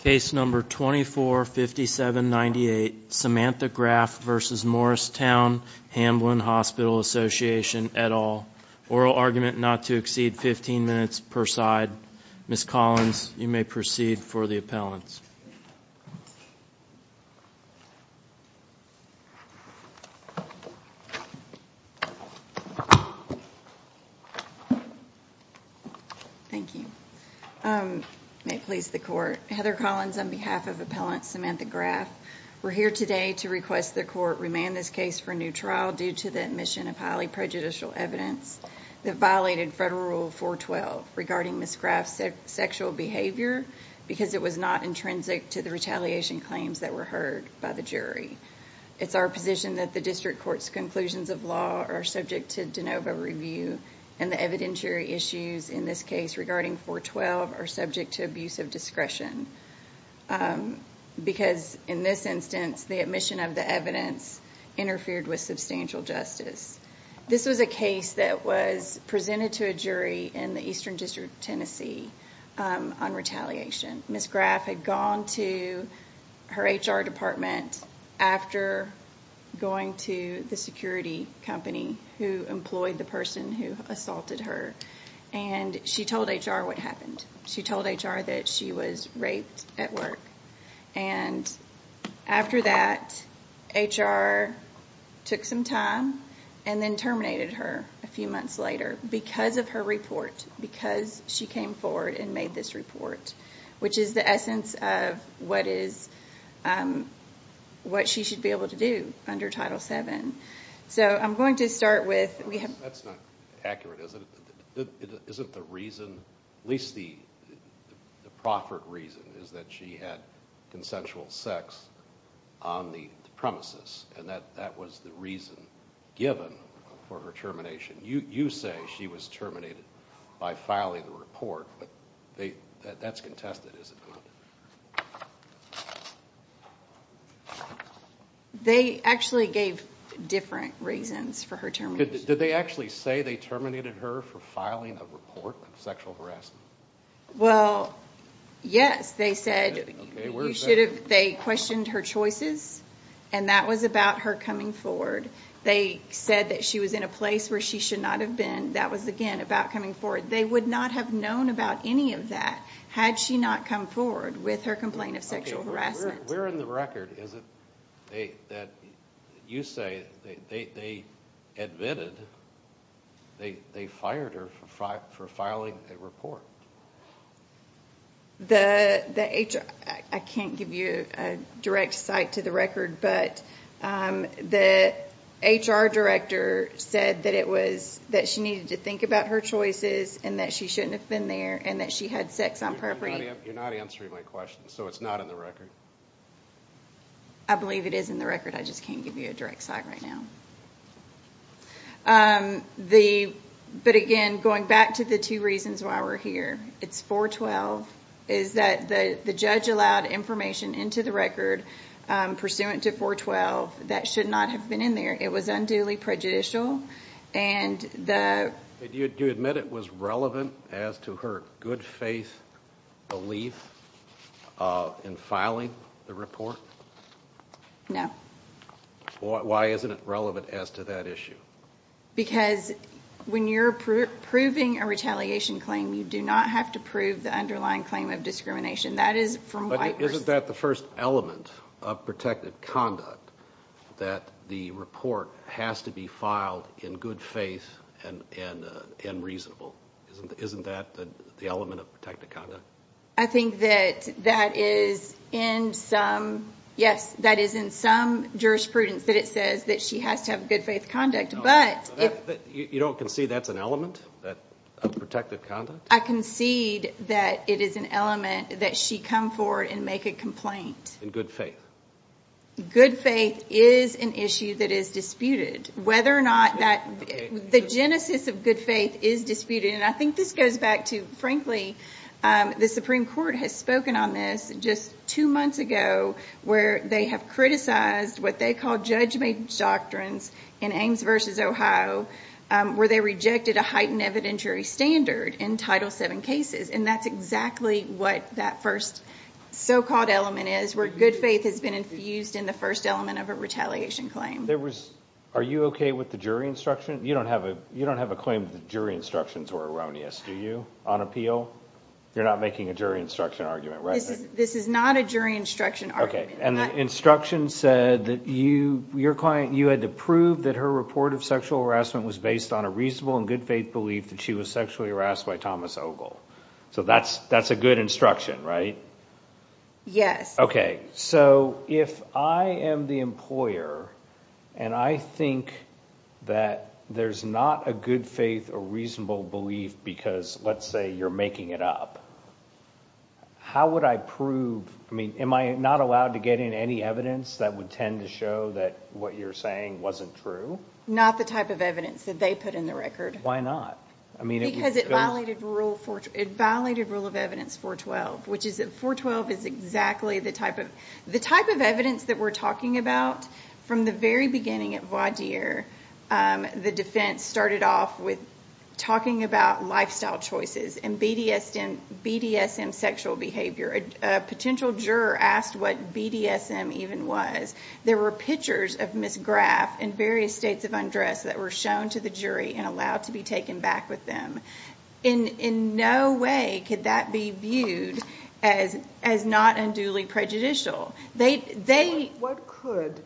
Case No. 245798, Samantha Graf v. Morristown Hamblen Hospital Association, et al. Oral argument not to exceed 15 minutes per side. Ms. Collins, you may proceed for the appellants. Thank you. May it please the Court. Heather Collins on behalf of Appellant Samantha Graf. We're here today to request the Court remand this case for new trial due to the admission of highly prejudicial evidence that violated Federal Rule 412 regarding Ms. Graf's sexual behavior because it was not intrinsic to the retaliation claims that were heard by the jury. It's our position that the District Court's conclusions of law are subject to de novo review and the evidentiary issues in this case regarding 412 are subject to abuse of discretion because in this instance the admission of the evidence interfered with substantial justice. This was a case that was presented to a jury in the Eastern District of Tennessee on retaliation. Ms. Graf had gone to her HR department after going to the security company who employed the person who assaulted her and she told HR what happened. She told HR that she was raped at work. After that, HR took some time and then terminated her a few months later because of her report, because she came forward and made this report, which is the essence of what she should be able to do under Title VII. So I'm going to start with... That's not accurate, is it? Isn't the reason, at least the proffered reason, is that she had consensual sex on the premises and that was the reason given for her termination? You say she was terminated by filing the report, but that's contested, is it not? They actually gave different reasons for her termination. Did they actually say they terminated her for filing a report of sexual harassment? Well, yes. They said they questioned her choices and that was about her coming forward. They said that she was in a place where she should not have been. That was, again, about coming forward. They would not have known about any of that had she not come forward. Okay. Where in the record is it that you say they admitted they fired her for filing a report? I can't give you a direct cite to the record, but the HR director said that she needed to think about her choices and that she shouldn't have been there and that she had sex on paraphernalia. You're not answering my question, so it's not in the record? I believe it is in the record. I just can't give you a direct cite right now. But, again, going back to the two reasons why we're here, it's 412, is that the judge allowed information into the record pursuant to 412 that should not have been in there. It was unduly prejudicial. Do you admit it was relevant as to her good faith belief in filing the report? No. Why isn't it relevant as to that issue? Because when you're proving a retaliation claim, you do not have to prove the underlying claim of discrimination. But isn't that the first element of protected conduct, that the report has to be filed in good faith and reasonable? Isn't that the element of protected conduct? I think that that is in some jurisprudence that it says that she has to have good faith conduct. You don't concede that's an element of protected conduct? I concede that it is an element that she come forward and make a complaint. In good faith? Good faith is an issue that is disputed. Whether or not that the genesis of good faith is disputed, and I think this goes back to, frankly, the Supreme Court has spoken on this just two months ago, where they have criticized what they call judge-made doctrines in Ames v. Ohio, where they rejected a heightened evidentiary standard in Title VII cases, and that's exactly what that first so-called element is, where good faith has been infused in the first element of a retaliation claim. Are you okay with the jury instruction? You don't have a claim that the jury instructions were erroneous, do you, on appeal? You're not making a jury instruction argument, right? This is not a jury instruction argument. Okay, and the instruction said that you had to prove that her report of sexual harassment was based on a reasonable and good faith belief that she was sexually harassed by Thomas Ogle. So that's a good instruction, right? Yes. Okay, so if I am the employer and I think that there's not a good faith or reasonable belief because, let's say, you're making it up, how would I prove? I mean, am I not allowed to get in any evidence that would tend to show that what you're saying wasn't true? Not the type of evidence that they put in the record. Why not? Because it violated Rule of Evidence 412, which is exactly the type of evidence that we're talking about. From the very beginning at voir dire, the defense started off with talking about lifestyle choices and BDSM sexual behavior. A potential juror asked what BDSM even was. There were pictures of Ms. Graff in various states of undress that were shown to the jury and allowed to be taken back with them. In no way could that be viewed as not unduly prejudicial. What could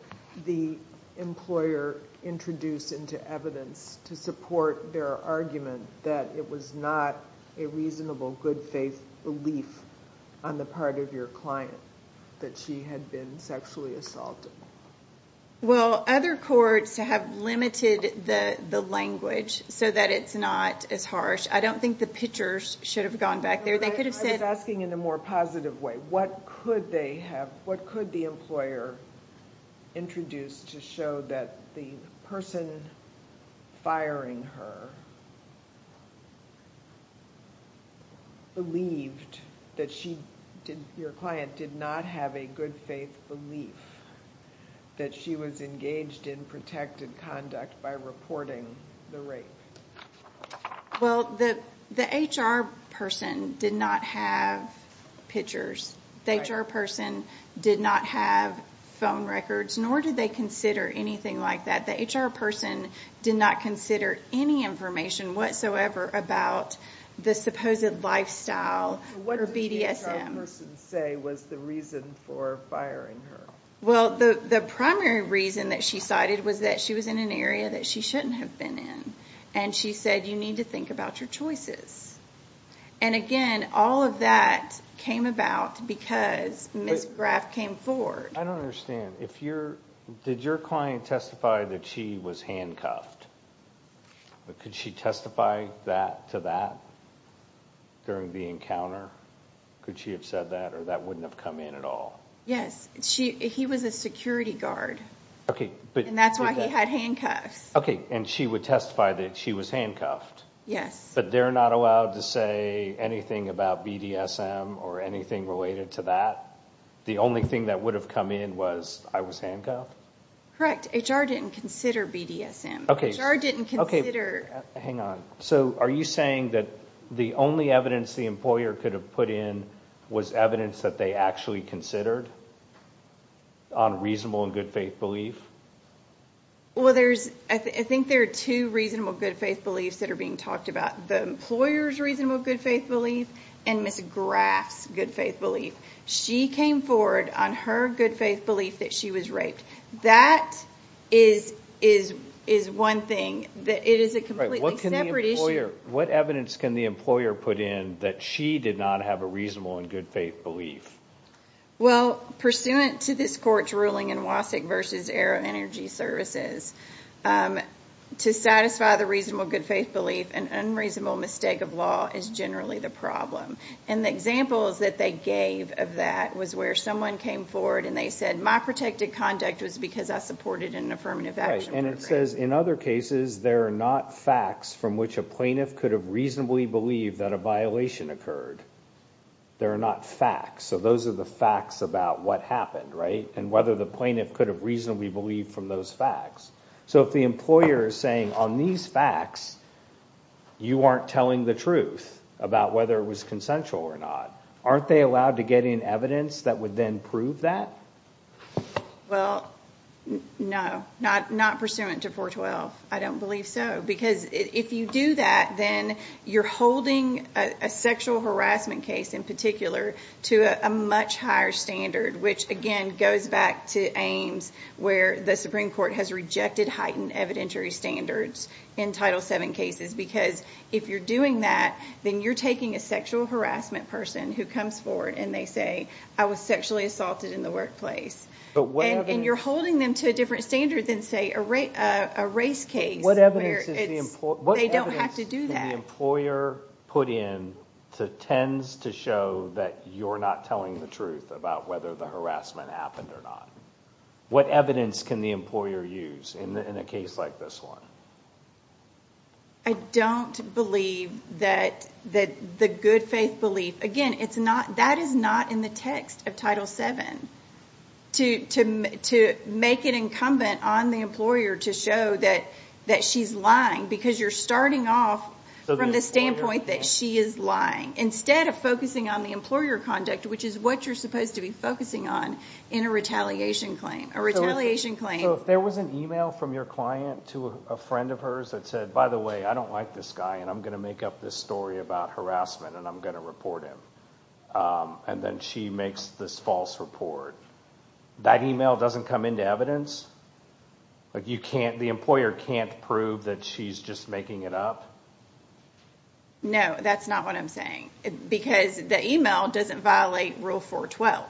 the employer introduce into evidence to support their argument that it was not a reasonable good faith belief on the part of your client that she had been sexually assaulted? Well, other courts have limited the language so that it's not as harsh. I don't think the pictures should have gone back there. I was asking in a more positive way. What could the employer introduce to show that the person firing her believed that your client did not have a good faith belief that she was engaged in protected conduct by reporting the rape? Well, the HR person did not have pictures. The HR person did not have phone records, nor did they consider anything like that. The HR person did not consider any information whatsoever about the supposed lifestyle or BDSM. What did the HR person say was the reason for firing her? Well, the primary reason that she cited was that she was in an area that she shouldn't have been in, and she said, you need to think about your choices. And again, all of that came about because Ms. Graff came forward. I don't understand. Did your client testify that she was handcuffed? Could she testify to that during the encounter? Could she have said that, or that wouldn't have come in at all? Yes. He was a security guard, and that's why he had handcuffs. Okay, and she would testify that she was handcuffed. Yes. But they're not allowed to say anything about BDSM or anything related to that? The only thing that would have come in was, I was handcuffed? Correct. HR didn't consider BDSM. Hang on. So are you saying that the only evidence the employer could have put in was evidence that they actually considered on reasonable and good-faith belief? Well, I think there are two reasonable good-faith beliefs that are being talked about, the employer's reasonable good-faith belief and Ms. Graff's good-faith belief. She came forward on her good-faith belief that she was raped. That is one thing. It is a completely separate issue. What evidence can the employer put in that she did not have a reasonable and good-faith belief? Well, pursuant to this court's ruling in Wasick v. Arrow Energy Services, to satisfy the reasonable good-faith belief, an unreasonable mistake of law is generally the problem. And the examples that they gave of that was where someone came forward and they said, my protected conduct was because I supported an affirmative action program. And it says, in other cases, there are not facts from which a plaintiff could have reasonably believed that a violation occurred. There are not facts. So those are the facts about what happened, right? And whether the plaintiff could have reasonably believed from those facts. So if the employer is saying, on these facts, you aren't telling the truth about whether it was consensual or not, aren't they allowed to get in evidence that would then prove that? Well, no. Not pursuant to 412. I don't believe so. Because if you do that, then you're holding a sexual harassment case in particular to a much higher standard, which again goes back to Ames, where the Supreme Court has rejected heightened evidentiary standards in Title VII cases. Because if you're doing that, then you're taking a sexual harassment person who comes forward and they say, I was sexually assaulted in the workplace. And you're holding them to a different standard than, say, a race case. They don't have to do that. What evidence can the employer put in that tends to show that you're not telling the truth about whether the harassment happened or not? What evidence can the employer use in a case like this one? I don't believe that the good faith belief, again, that is not in the text of Title VII. To make it incumbent on the employer to show that she's lying, because you're starting off from the standpoint that she is lying, instead of focusing on the employer conduct, which is what you're supposed to be focusing on in a retaliation claim. So if there was an email from your client to a friend of hers that said, by the way, I don't like this guy and I'm going to make up this story about harassment and I'm going to report him, and then she makes this false report, that email doesn't come into evidence? The employer can't prove that she's just making it up? No, that's not what I'm saying. Because the email doesn't violate Rule 412.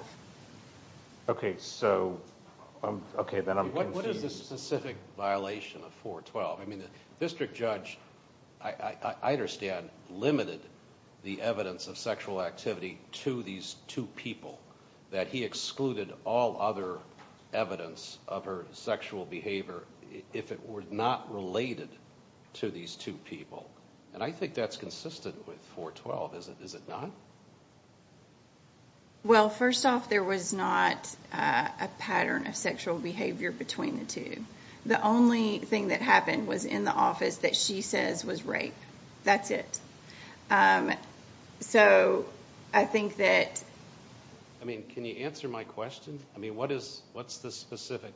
Okay, so then I'm confused. What is the specific violation of 412? The district judge, I understand, limited the evidence of sexual activity to these two people, that he excluded all other evidence of her sexual behavior if it were not related to these two people. And I think that's consistent with 412, is it not? Well, first off, there was not a pattern of sexual behavior between the two. The only thing that happened was in the office that she says was rape. That's it. So I think that... I mean, can you answer my question? I mean, what's the specific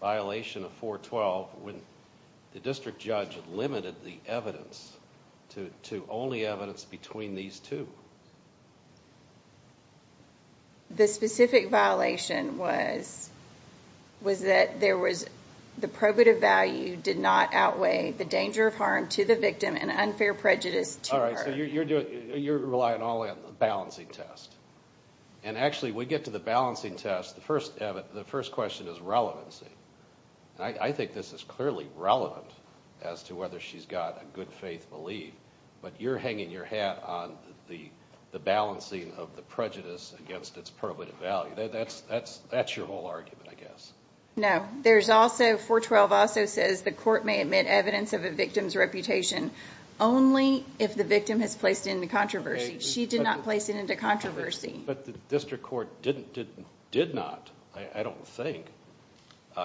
violation of 412 when the district judge limited the evidence to only evidence between these two? The specific violation was that there was... the probative value did not outweigh the danger of harm to the victim and unfair prejudice to her. All right, so you're relying only on the balancing test. And actually, we get to the balancing test, the first question is relevancy. I think this is clearly relevant as to whether she's got a good faith belief, but you're hanging your hat on the balancing of the prejudice against its probative value. That's your whole argument, I guess. No. 412 also says the court may admit evidence of a victim's reputation only if the victim has placed it into controversy. She did not place it into controversy. But the district court did not, I don't think.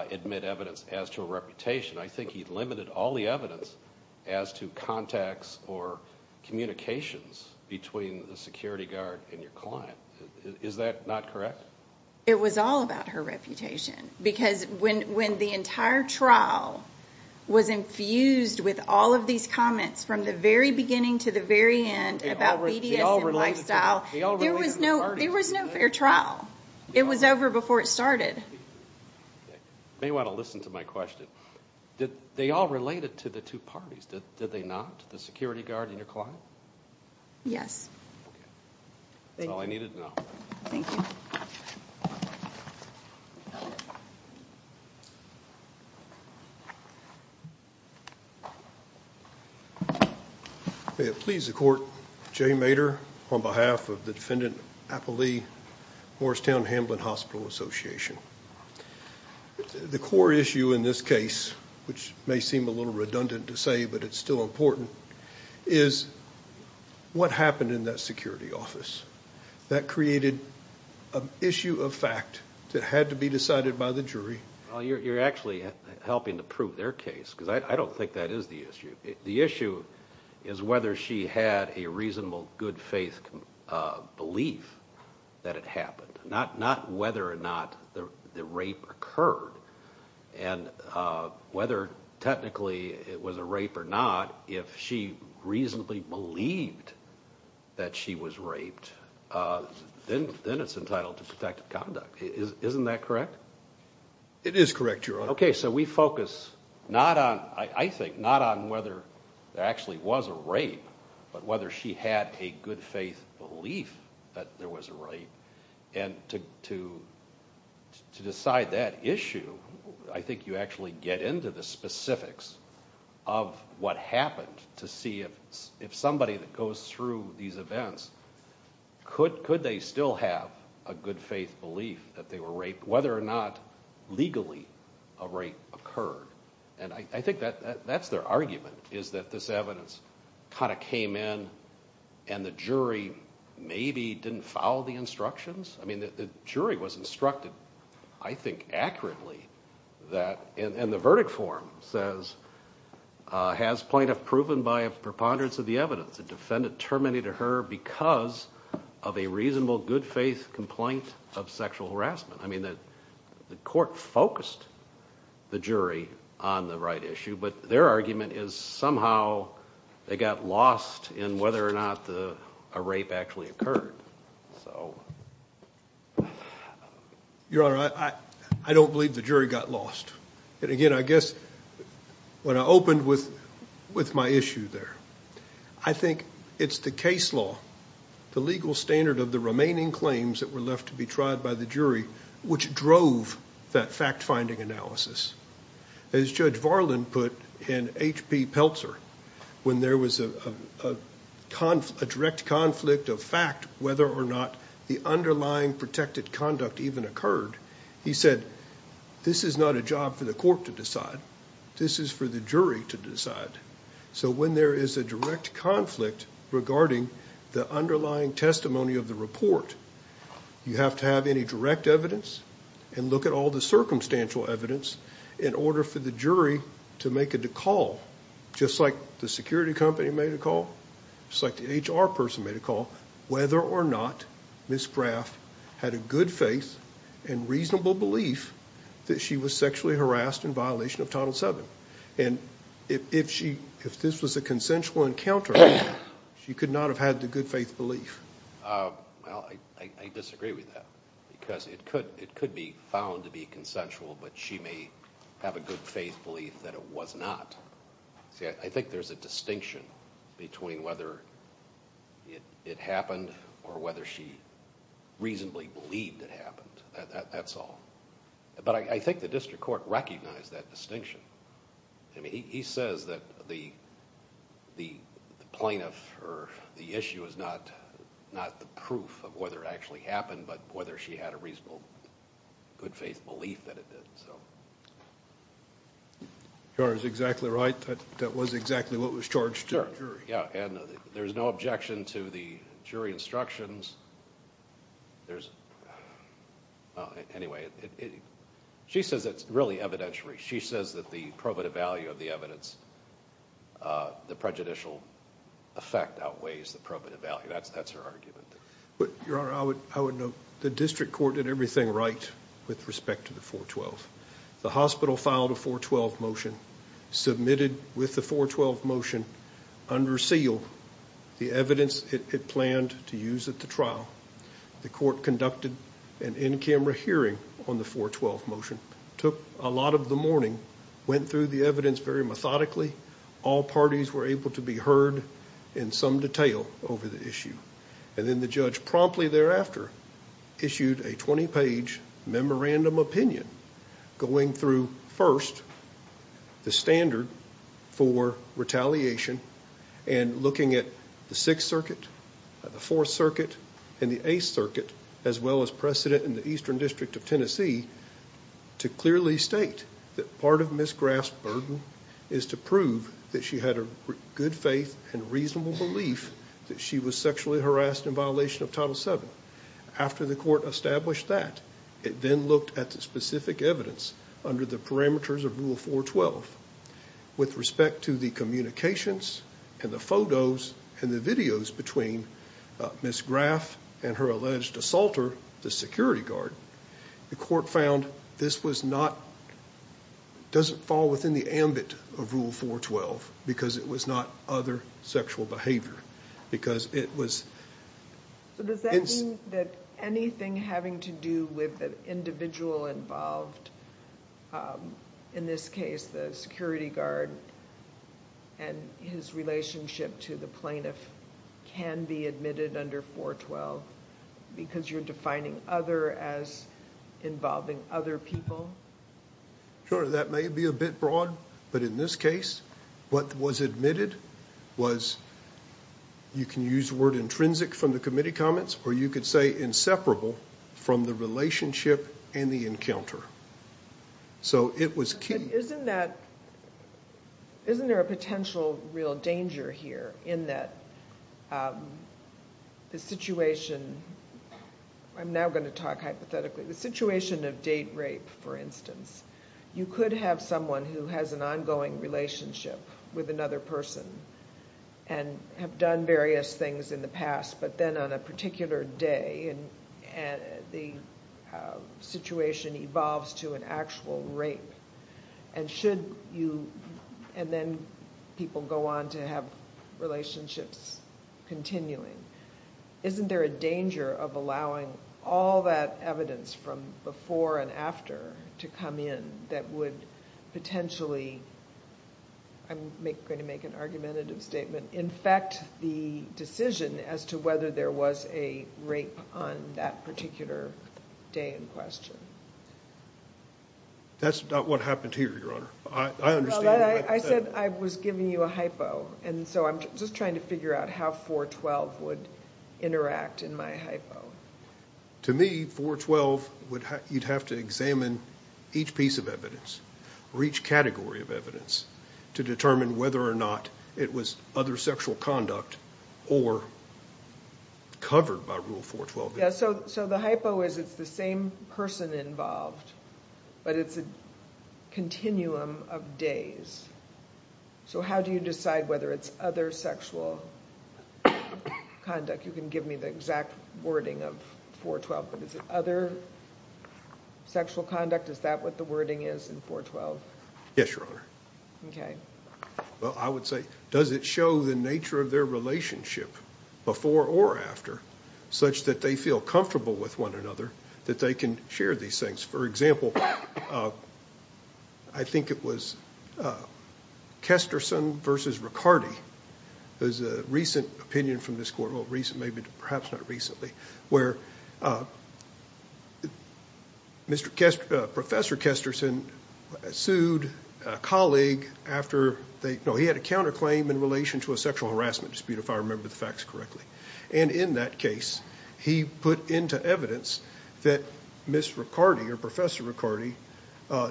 Admit evidence as to a reputation. I think he limited all the evidence as to contacts or communications between the security guard and your client. Is that not correct? It was all about her reputation. Because when the entire trial was infused with all of these comments from the very beginning to the very end about BDS and lifestyle, there was no fair trial. It was over before it started. You may want to listen to my question. They all related to the two parties, did they not? The security guard and your client? Yes. Okay. That's all I needed to know. Thank you. May it please the court, Jay Maeder on behalf of the defendant, Apple Lee, Morristown Hamblin Hospital Association. The core issue in this case, which may seem a little redundant to say, but it's still important, is what happened in that security office. That created an issue of fact that had to be decided by the jury. You're actually helping to prove their case, because I don't think that is the issue. The issue is whether she had a reasonable, good faith belief that it happened. Not whether or not the rape occurred. And whether technically it was a rape or not, if she reasonably believed that she was raped, then it's entitled to protective conduct. Isn't that correct? It is correct, Your Honor. Okay. So we focus, I think, not on whether there actually was a rape, but whether she had a good faith belief that there was a rape. And to decide that issue, I think you actually get into the specifics of what happened to see if somebody that goes through these events, could they still have a good faith belief that they were raped, whether or not legally a rape occurred. And I think that's their argument, is that this evidence kind of came in and the jury maybe didn't follow the instructions. I mean, the jury was instructed, I think accurately, and the verdict form says, has plaintiff proven by a preponderance of the evidence the defendant terminated her because of a reasonable, good faith complaint of sexual harassment. I mean, the court focused the jury on the right issue, but their argument is somehow they got lost in whether or not a rape actually occurred. So... Your Honor, I don't believe the jury got lost. And again, I guess when I opened with my issue there, I think it's the case law, the legal standard of the remaining claims that were left to be tried by the jury, which drove that fact-finding analysis. As Judge Varlin put in H.P. Peltzer, when there was a direct conflict of fact whether or not the underlying protected conduct even occurred, he said, this is not a job for the court to decide. This is for the jury to decide. So when there is a direct conflict regarding the underlying testimony of the report, you have to have any direct evidence and look at all the circumstantial evidence in order for the jury to make a call, just like the security company made a call, just like the HR person made a call, whether or not Ms. Graff had a good faith and reasonable belief that she was sexually harassed in violation of Title VII. And if this was a consensual encounter, she could not have had the good faith belief. Well, I disagree with that, because it could be found to be consensual, but she may have a good faith belief that it was not. See, I think there's a distinction between whether it happened or whether she reasonably believed it happened. That's all. But I think the district court recognized that distinction. I mean, he says that the plaintiff or the issue is not the proof of whether it actually happened, but whether she had a reasonable good faith belief that it did. Your Honor is exactly right. That was exactly what was charged to the jury. Yeah, and there's no objection to the jury instructions. There's... Anyway, she says it's really evidentiary. She says that the probative value of the evidence, the prejudicial effect outweighs the probative value. That's her argument. Your Honor, I would note the district court did everything right with respect to the 412. The hospital filed a 412 motion, submitted with the 412 motion, under seal the evidence it planned to use at the trial. The court conducted an in-camera hearing on the 412 motion, took a lot of the morning, went through the evidence very methodically. All parties were able to be heard in some detail over the issue. And then the judge promptly thereafter issued a 20-page memorandum opinion going through, first, the standard for retaliation and looking at the Sixth Circuit, the Fourth Circuit and the Eighth Circuit, as well as precedent in the Eastern District of Tennessee, to clearly state that part of Ms. Graff's burden is to prove that she had a good faith and reasonable belief that she was sexually harassed in violation of Title VII. After the court established that, it then looked at the specific evidence under the parameters of Rule 412. With respect to the communications and the photos and the videos between Ms. Graff and her alleged assaulter, the security guard, the court found this was not, doesn't fall within the ambit of Rule 412 because it was not other sexual behavior. Because it was... So does that mean that anything having to do with the individual involved, in this case the security guard and his relationship to the plaintiff, can be admitted under 412 because you're defining other as involving other people? Sure, that may be a bit broad, but in this case what was admitted was, you can use the word intrinsic from the committee comments, or you could say inseparable from the relationship and the encounter. So it was key. But isn't that, isn't there a potential real danger here in that the situation, I'm now going to talk hypothetically, the situation of date rape, for instance. You could have someone who has an ongoing relationship with another person and have done various things in the past, but then on a particular day, the situation evolves to an actual rape. And should you, and then people go on to have relationships continuing. Isn't there a danger of allowing all that evidence from before and after to come in that would potentially, I'm going to make an argumentative statement, infect the decision as to whether there was a rape on that particular day in question? That's not what happened here, Your Honor. I understand what you're saying. I said I was giving you a hypo, and so I'm just trying to figure out how 412 would interact in my hypo. To me, 412, you'd have to examine each piece of evidence or each category of evidence to determine whether or not it was other sexual conduct or covered by Rule 412. Yeah, so the hypo is it's the same person involved, but it's a continuum of days. So how do you decide whether it's other sexual conduct? You can give me the exact wording of 412, but is it other sexual conduct? Is that what the wording is in 412? Yes, Your Honor. Okay. Well, I would say does it show the nature of their relationship before or after such that they feel comfortable with one another that they can share these things? For example, I think it was Kesterson v. Ricardi. There's a recent opinion from this court, well, maybe perhaps not recently, where Professor Kesterson sued a colleague after they, no, he had a counterclaim in relation to a sexual harassment dispute, if I remember the facts correctly. And in that case, he put into evidence that Ms. Ricardi or Professor Ricardi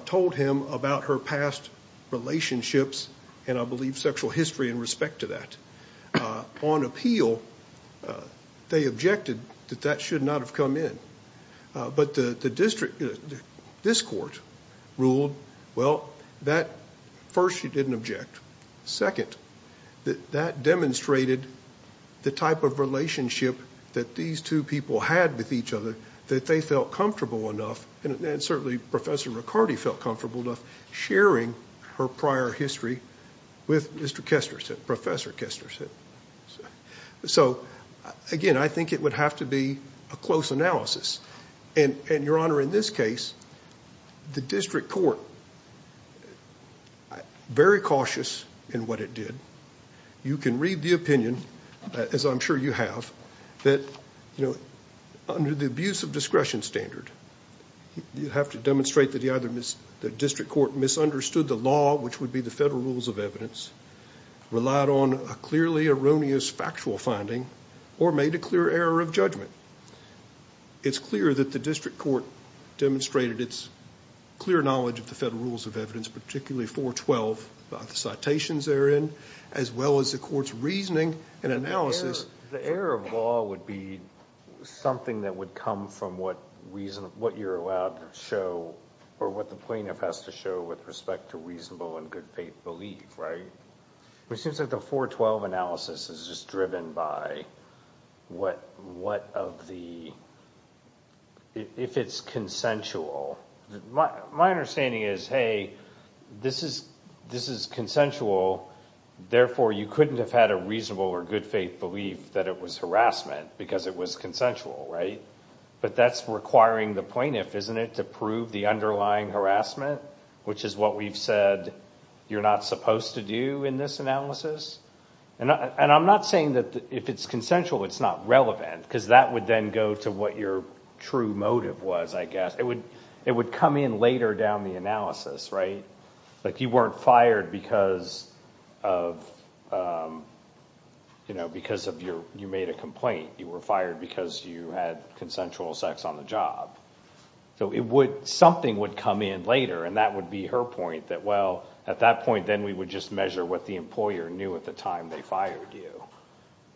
told him about her past relationships and I believe sexual history in respect to that. On appeal, they objected that that should not have come in. But this court ruled, well, first, she didn't object. Second, that demonstrated the type of relationship that these two people had with each other that they felt comfortable enough, and certainly Professor Ricardi felt comfortable enough, sharing her prior history with Mr. Kesterson, Professor Kesterson. So, again, I think it would have to be a close analysis. And, Your Honor, in this case, the district court, very cautious in what it did. You can read the opinion, as I'm sure you have, that under the abuse of discretion standard, you have to demonstrate that the district court misunderstood the law, which would be the federal rules of evidence, relied on a clearly erroneous factual finding, or made a clear error of judgment. It's clear that the district court demonstrated its clear knowledge of the federal rules of evidence, particularly 412, the citations therein, as well as the court's reasoning and analysis. The error of law would be something that would come from what you're allowed to show, or what the plaintiff has to show with respect to reasonable and good faith belief, right? It seems like the 412 analysis is just driven by what of the, if it's consensual. My understanding is, hey, this is consensual, therefore you couldn't have had a reasonable or good faith belief that it was harassment, because it was consensual, right? But that's requiring the plaintiff, isn't it, to prove the underlying harassment, which is what we've said you're not supposed to do in this analysis. And I'm not saying that if it's consensual, it's not relevant, because that would then go to what your true motive was, I guess. It would come in later down the analysis, right? Like you weren't fired because you made a complaint. You were fired because you had consensual sex on the job. So something would come in later, and that would be her point, that, well, at that point then we would just measure what the employer knew at the time they fired you,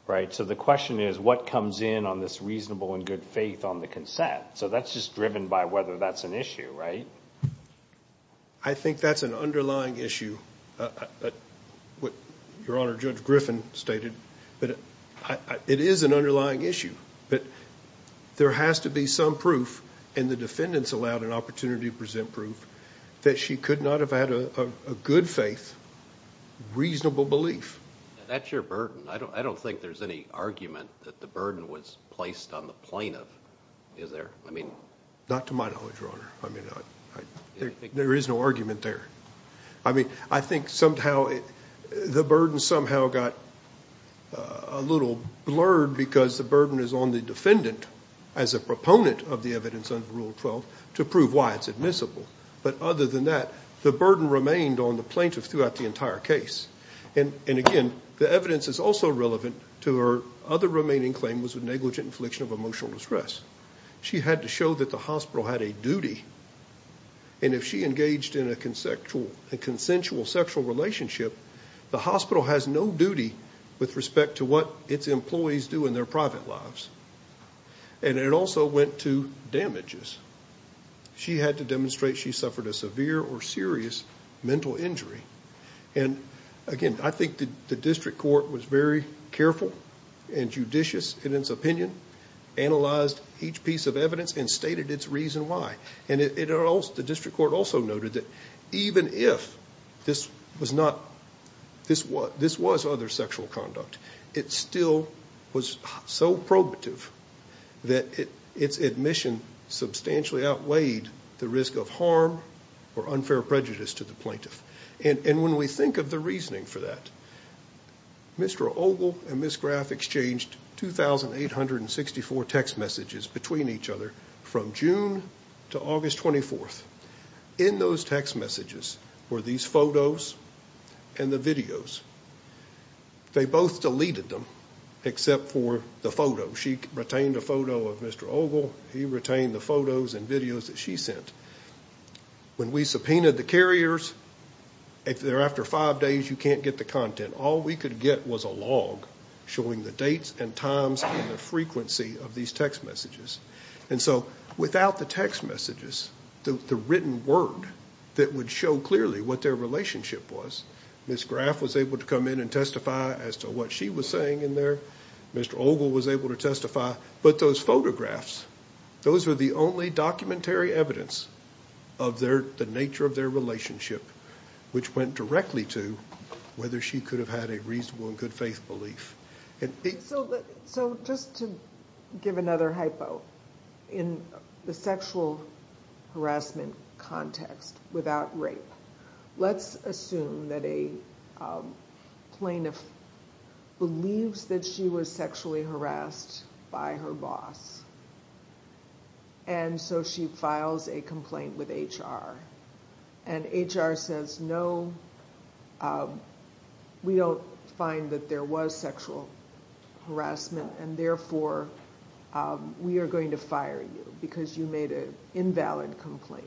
right? So the question is, what comes in on this reasonable and good faith on the consent? So that's just driven by whether that's an issue, right? I think that's an underlying issue, what Your Honor, Judge Griffin stated. It is an underlying issue, but there has to be some proof, and the defendant's allowed an opportunity to present proof, that she could not have had a good faith, reasonable belief. That's your burden. I don't think there's any argument that the burden was placed on the plaintiff, is there? Not to my knowledge, Your Honor. I mean, there is no argument there. I mean, I think somehow the burden somehow got a little blurred because the burden is on the defendant as a proponent of the evidence under Rule 12 to prove why it's admissible. But other than that, the burden remained on the plaintiff throughout the entire case. And again, the evidence is also relevant to her other remaining claim, which was negligent infliction of emotional distress. She had to show that the hospital had a duty, and if she engaged in a consensual sexual relationship, the hospital has no duty with respect to what its employees do in their private lives. And it also went to damages. She had to demonstrate she suffered a severe or serious mental injury. And again, I think the district court was very careful and judicious in its opinion, analyzed each piece of evidence, and stated its reason why. And the district court also noted that even if this was other sexual conduct, it still was so probative that its admission substantially outweighed the risk of harm or unfair prejudice to the plaintiff. And when we think of the reasoning for that, Mr. Ogle and Ms. Graff exchanged 2,864 text messages between each other from June to August 24th. In those text messages were these photos and the videos. They both deleted them except for the photo. She retained a photo of Mr. Ogle. He retained the photos and videos that she sent. When we subpoenaed the carriers, if they're after five days, you can't get the content. All we could get was a log showing the dates and times and the frequency of these text messages. And so without the text messages, the written word that would show clearly what their relationship was, Ms. Graff was able to come in and testify as to what she was saying in there. Mr. Ogle was able to testify. But those photographs, those were the only documentary evidence of the nature of their relationship, which went directly to whether she could have had a reasonable and good faith belief. So just to give another hypo, in the sexual harassment context without rape, let's assume that a plaintiff believes that she was sexually harassed by her boss. And so she files a complaint with HR. And HR says, no, we don't find that there was sexual harassment, and therefore we are going to fire you because you made an invalid complaint.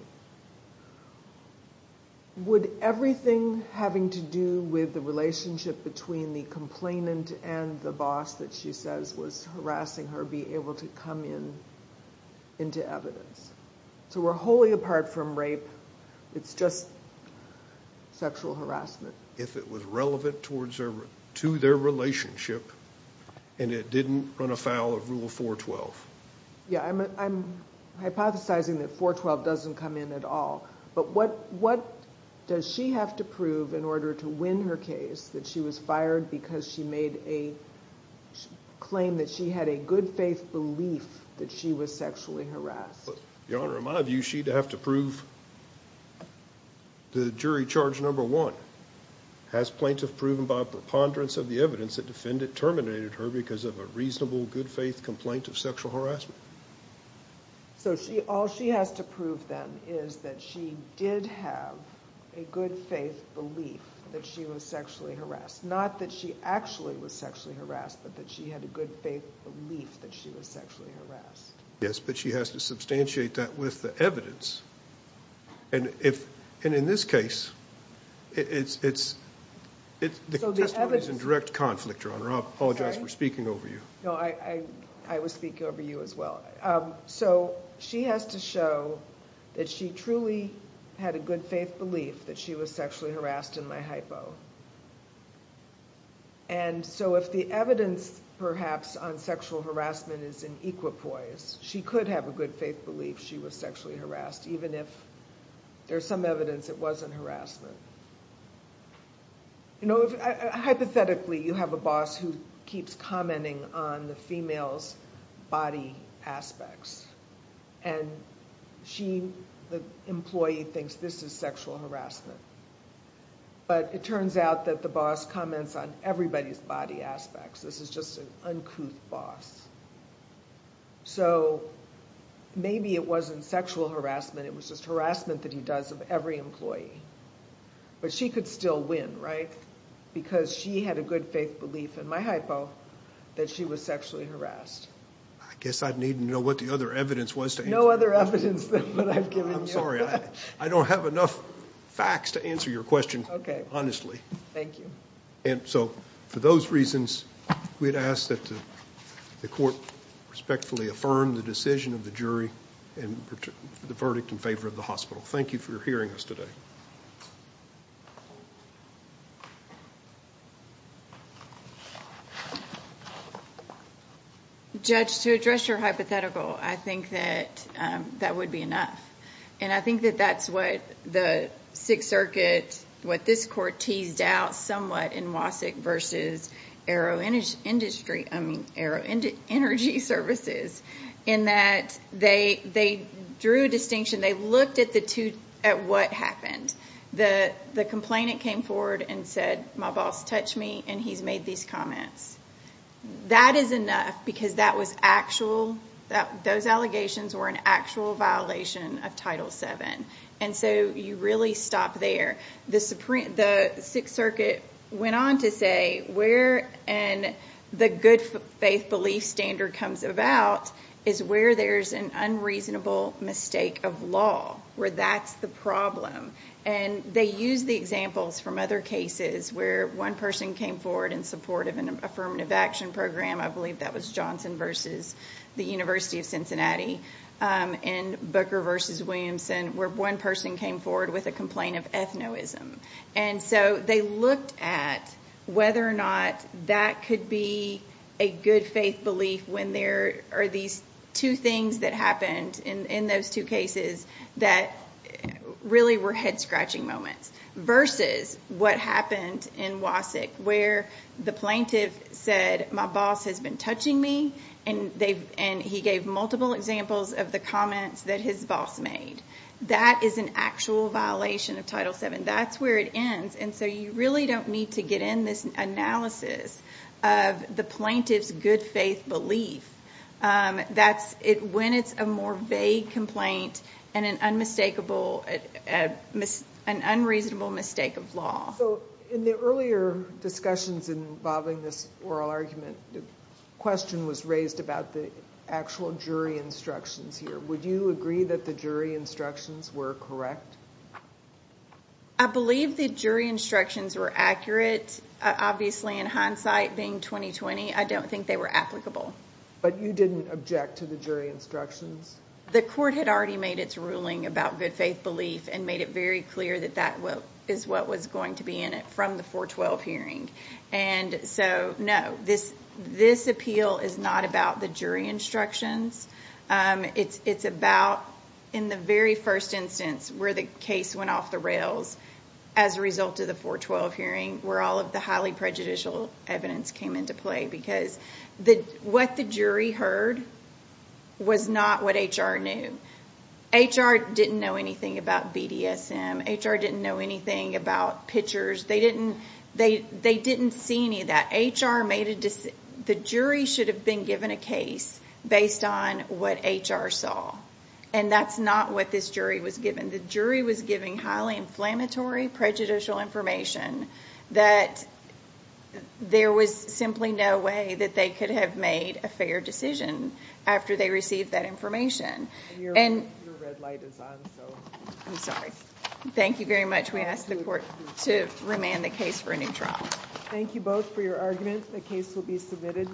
Would everything having to do with the relationship between the complainant and the boss that she says was harassing her be able to come in into evidence? So we're wholly apart from rape. It's just sexual harassment. If it was relevant to their relationship and it didn't run afoul of Rule 412. Yeah, I'm hypothesizing that 412 doesn't come in at all. But what does she have to prove in order to win her case that she was fired because she made a claim that she had a good faith belief that she was sexually harassed? Your Honor, in my view, she'd have to prove the jury charge number one. Has plaintiff proven by a preponderance of the evidence that defendant terminated her because of a reasonable good faith complaint of sexual harassment? So all she has to prove, then, is that she did have a good faith belief that she was sexually harassed. Not that she actually was sexually harassed, but that she had a good faith belief that she was sexually harassed. Yes, but she has to substantiate that with the evidence. And in this case, the testimony is in direct conflict, Your Honor. I apologize for speaking over you. No, I was speaking over you as well. So she has to show that she truly had a good faith belief that she was sexually harassed in my hypo. And so if the evidence, perhaps, on sexual harassment is in equipoise, she could have a good faith belief she was sexually harassed, even if there's some evidence it wasn't harassment. You know, hypothetically, you have a boss who keeps commenting on the female's body aspects. And she, the employee, thinks this is sexual harassment. But it turns out that the boss comments on everybody's body aspects. This is just an uncouth boss. So maybe it wasn't sexual harassment, it was just harassment that he does of every employee. But she could still win, right? Because she had a good faith belief in my hypo that she was sexually harassed. I guess I'd need to know what the other evidence was to answer your question. No other evidence than what I've given you. I'm sorry, I don't have enough facts to answer your question, honestly. Okay. Thank you. And so for those reasons, we'd ask that the court respectfully affirm the decision of the jury and the verdict in favor of the hospital. Thank you for hearing us today. Judge, to address your hypothetical, I think that that would be enough. And I think that that's what the Sixth Circuit, what this court teased out somewhat in Wasick versus Arrow Energy Services, in that they drew a distinction. They looked at what happened. The complainant came forward and said, my boss touched me and he's made these comments. That is enough because that was actual, those allegations were an actual violation of Title VII. And so you really stop there. The Sixth Circuit went on to say where the good faith belief standard comes about is where there's an unreasonable mistake of law, where that's the problem. And they used the examples from other cases where one person came forward in support of an affirmative action program, I believe that was Johnson versus the University of Cincinnati, and Booker versus Williamson, where one person came forward with a complaint of ethnoism. And so they looked at whether or not that could be a good faith belief when there are these two things that happened in those two cases that really were head scratching moments versus what happened in Wasick where the plaintiff said, my boss has been touching me and he gave multiple examples of the comments that his boss made. That is an actual violation of Title VII. That's where it ends. And so you really don't need to get in this analysis of the plaintiff's good faith belief when it's a more vague complaint and an unreasonable mistake of law. So in the earlier discussions involving this oral argument, the question was raised about the actual jury instructions here. Would you agree that the jury instructions were correct? I believe the jury instructions were accurate. Obviously, in hindsight, being 2020, I don't think they were applicable. But you didn't object to the jury instructions? The court had already made its ruling about good faith belief and made it very clear that that is what was going to be in it from the 412 hearing. And so no, this appeal is not about the jury instructions. It's about in the very first instance where the case went off the rails as a result of the 412 hearing where all of the highly prejudicial evidence came into play because what the jury heard was not what HR knew. HR didn't know anything about BDSM. HR didn't know anything about pitchers. They didn't see any of that. The jury should have been given a case based on what HR saw, and that's not what this jury was given. The jury was given highly inflammatory prejudicial information that there was simply no way that they could have made a fair decision after they received that information. Your red light is on, so. I'm sorry. Thank you very much. We ask the court to remand the case for a new trial. Thank you both for your arguments. The case will be submitted.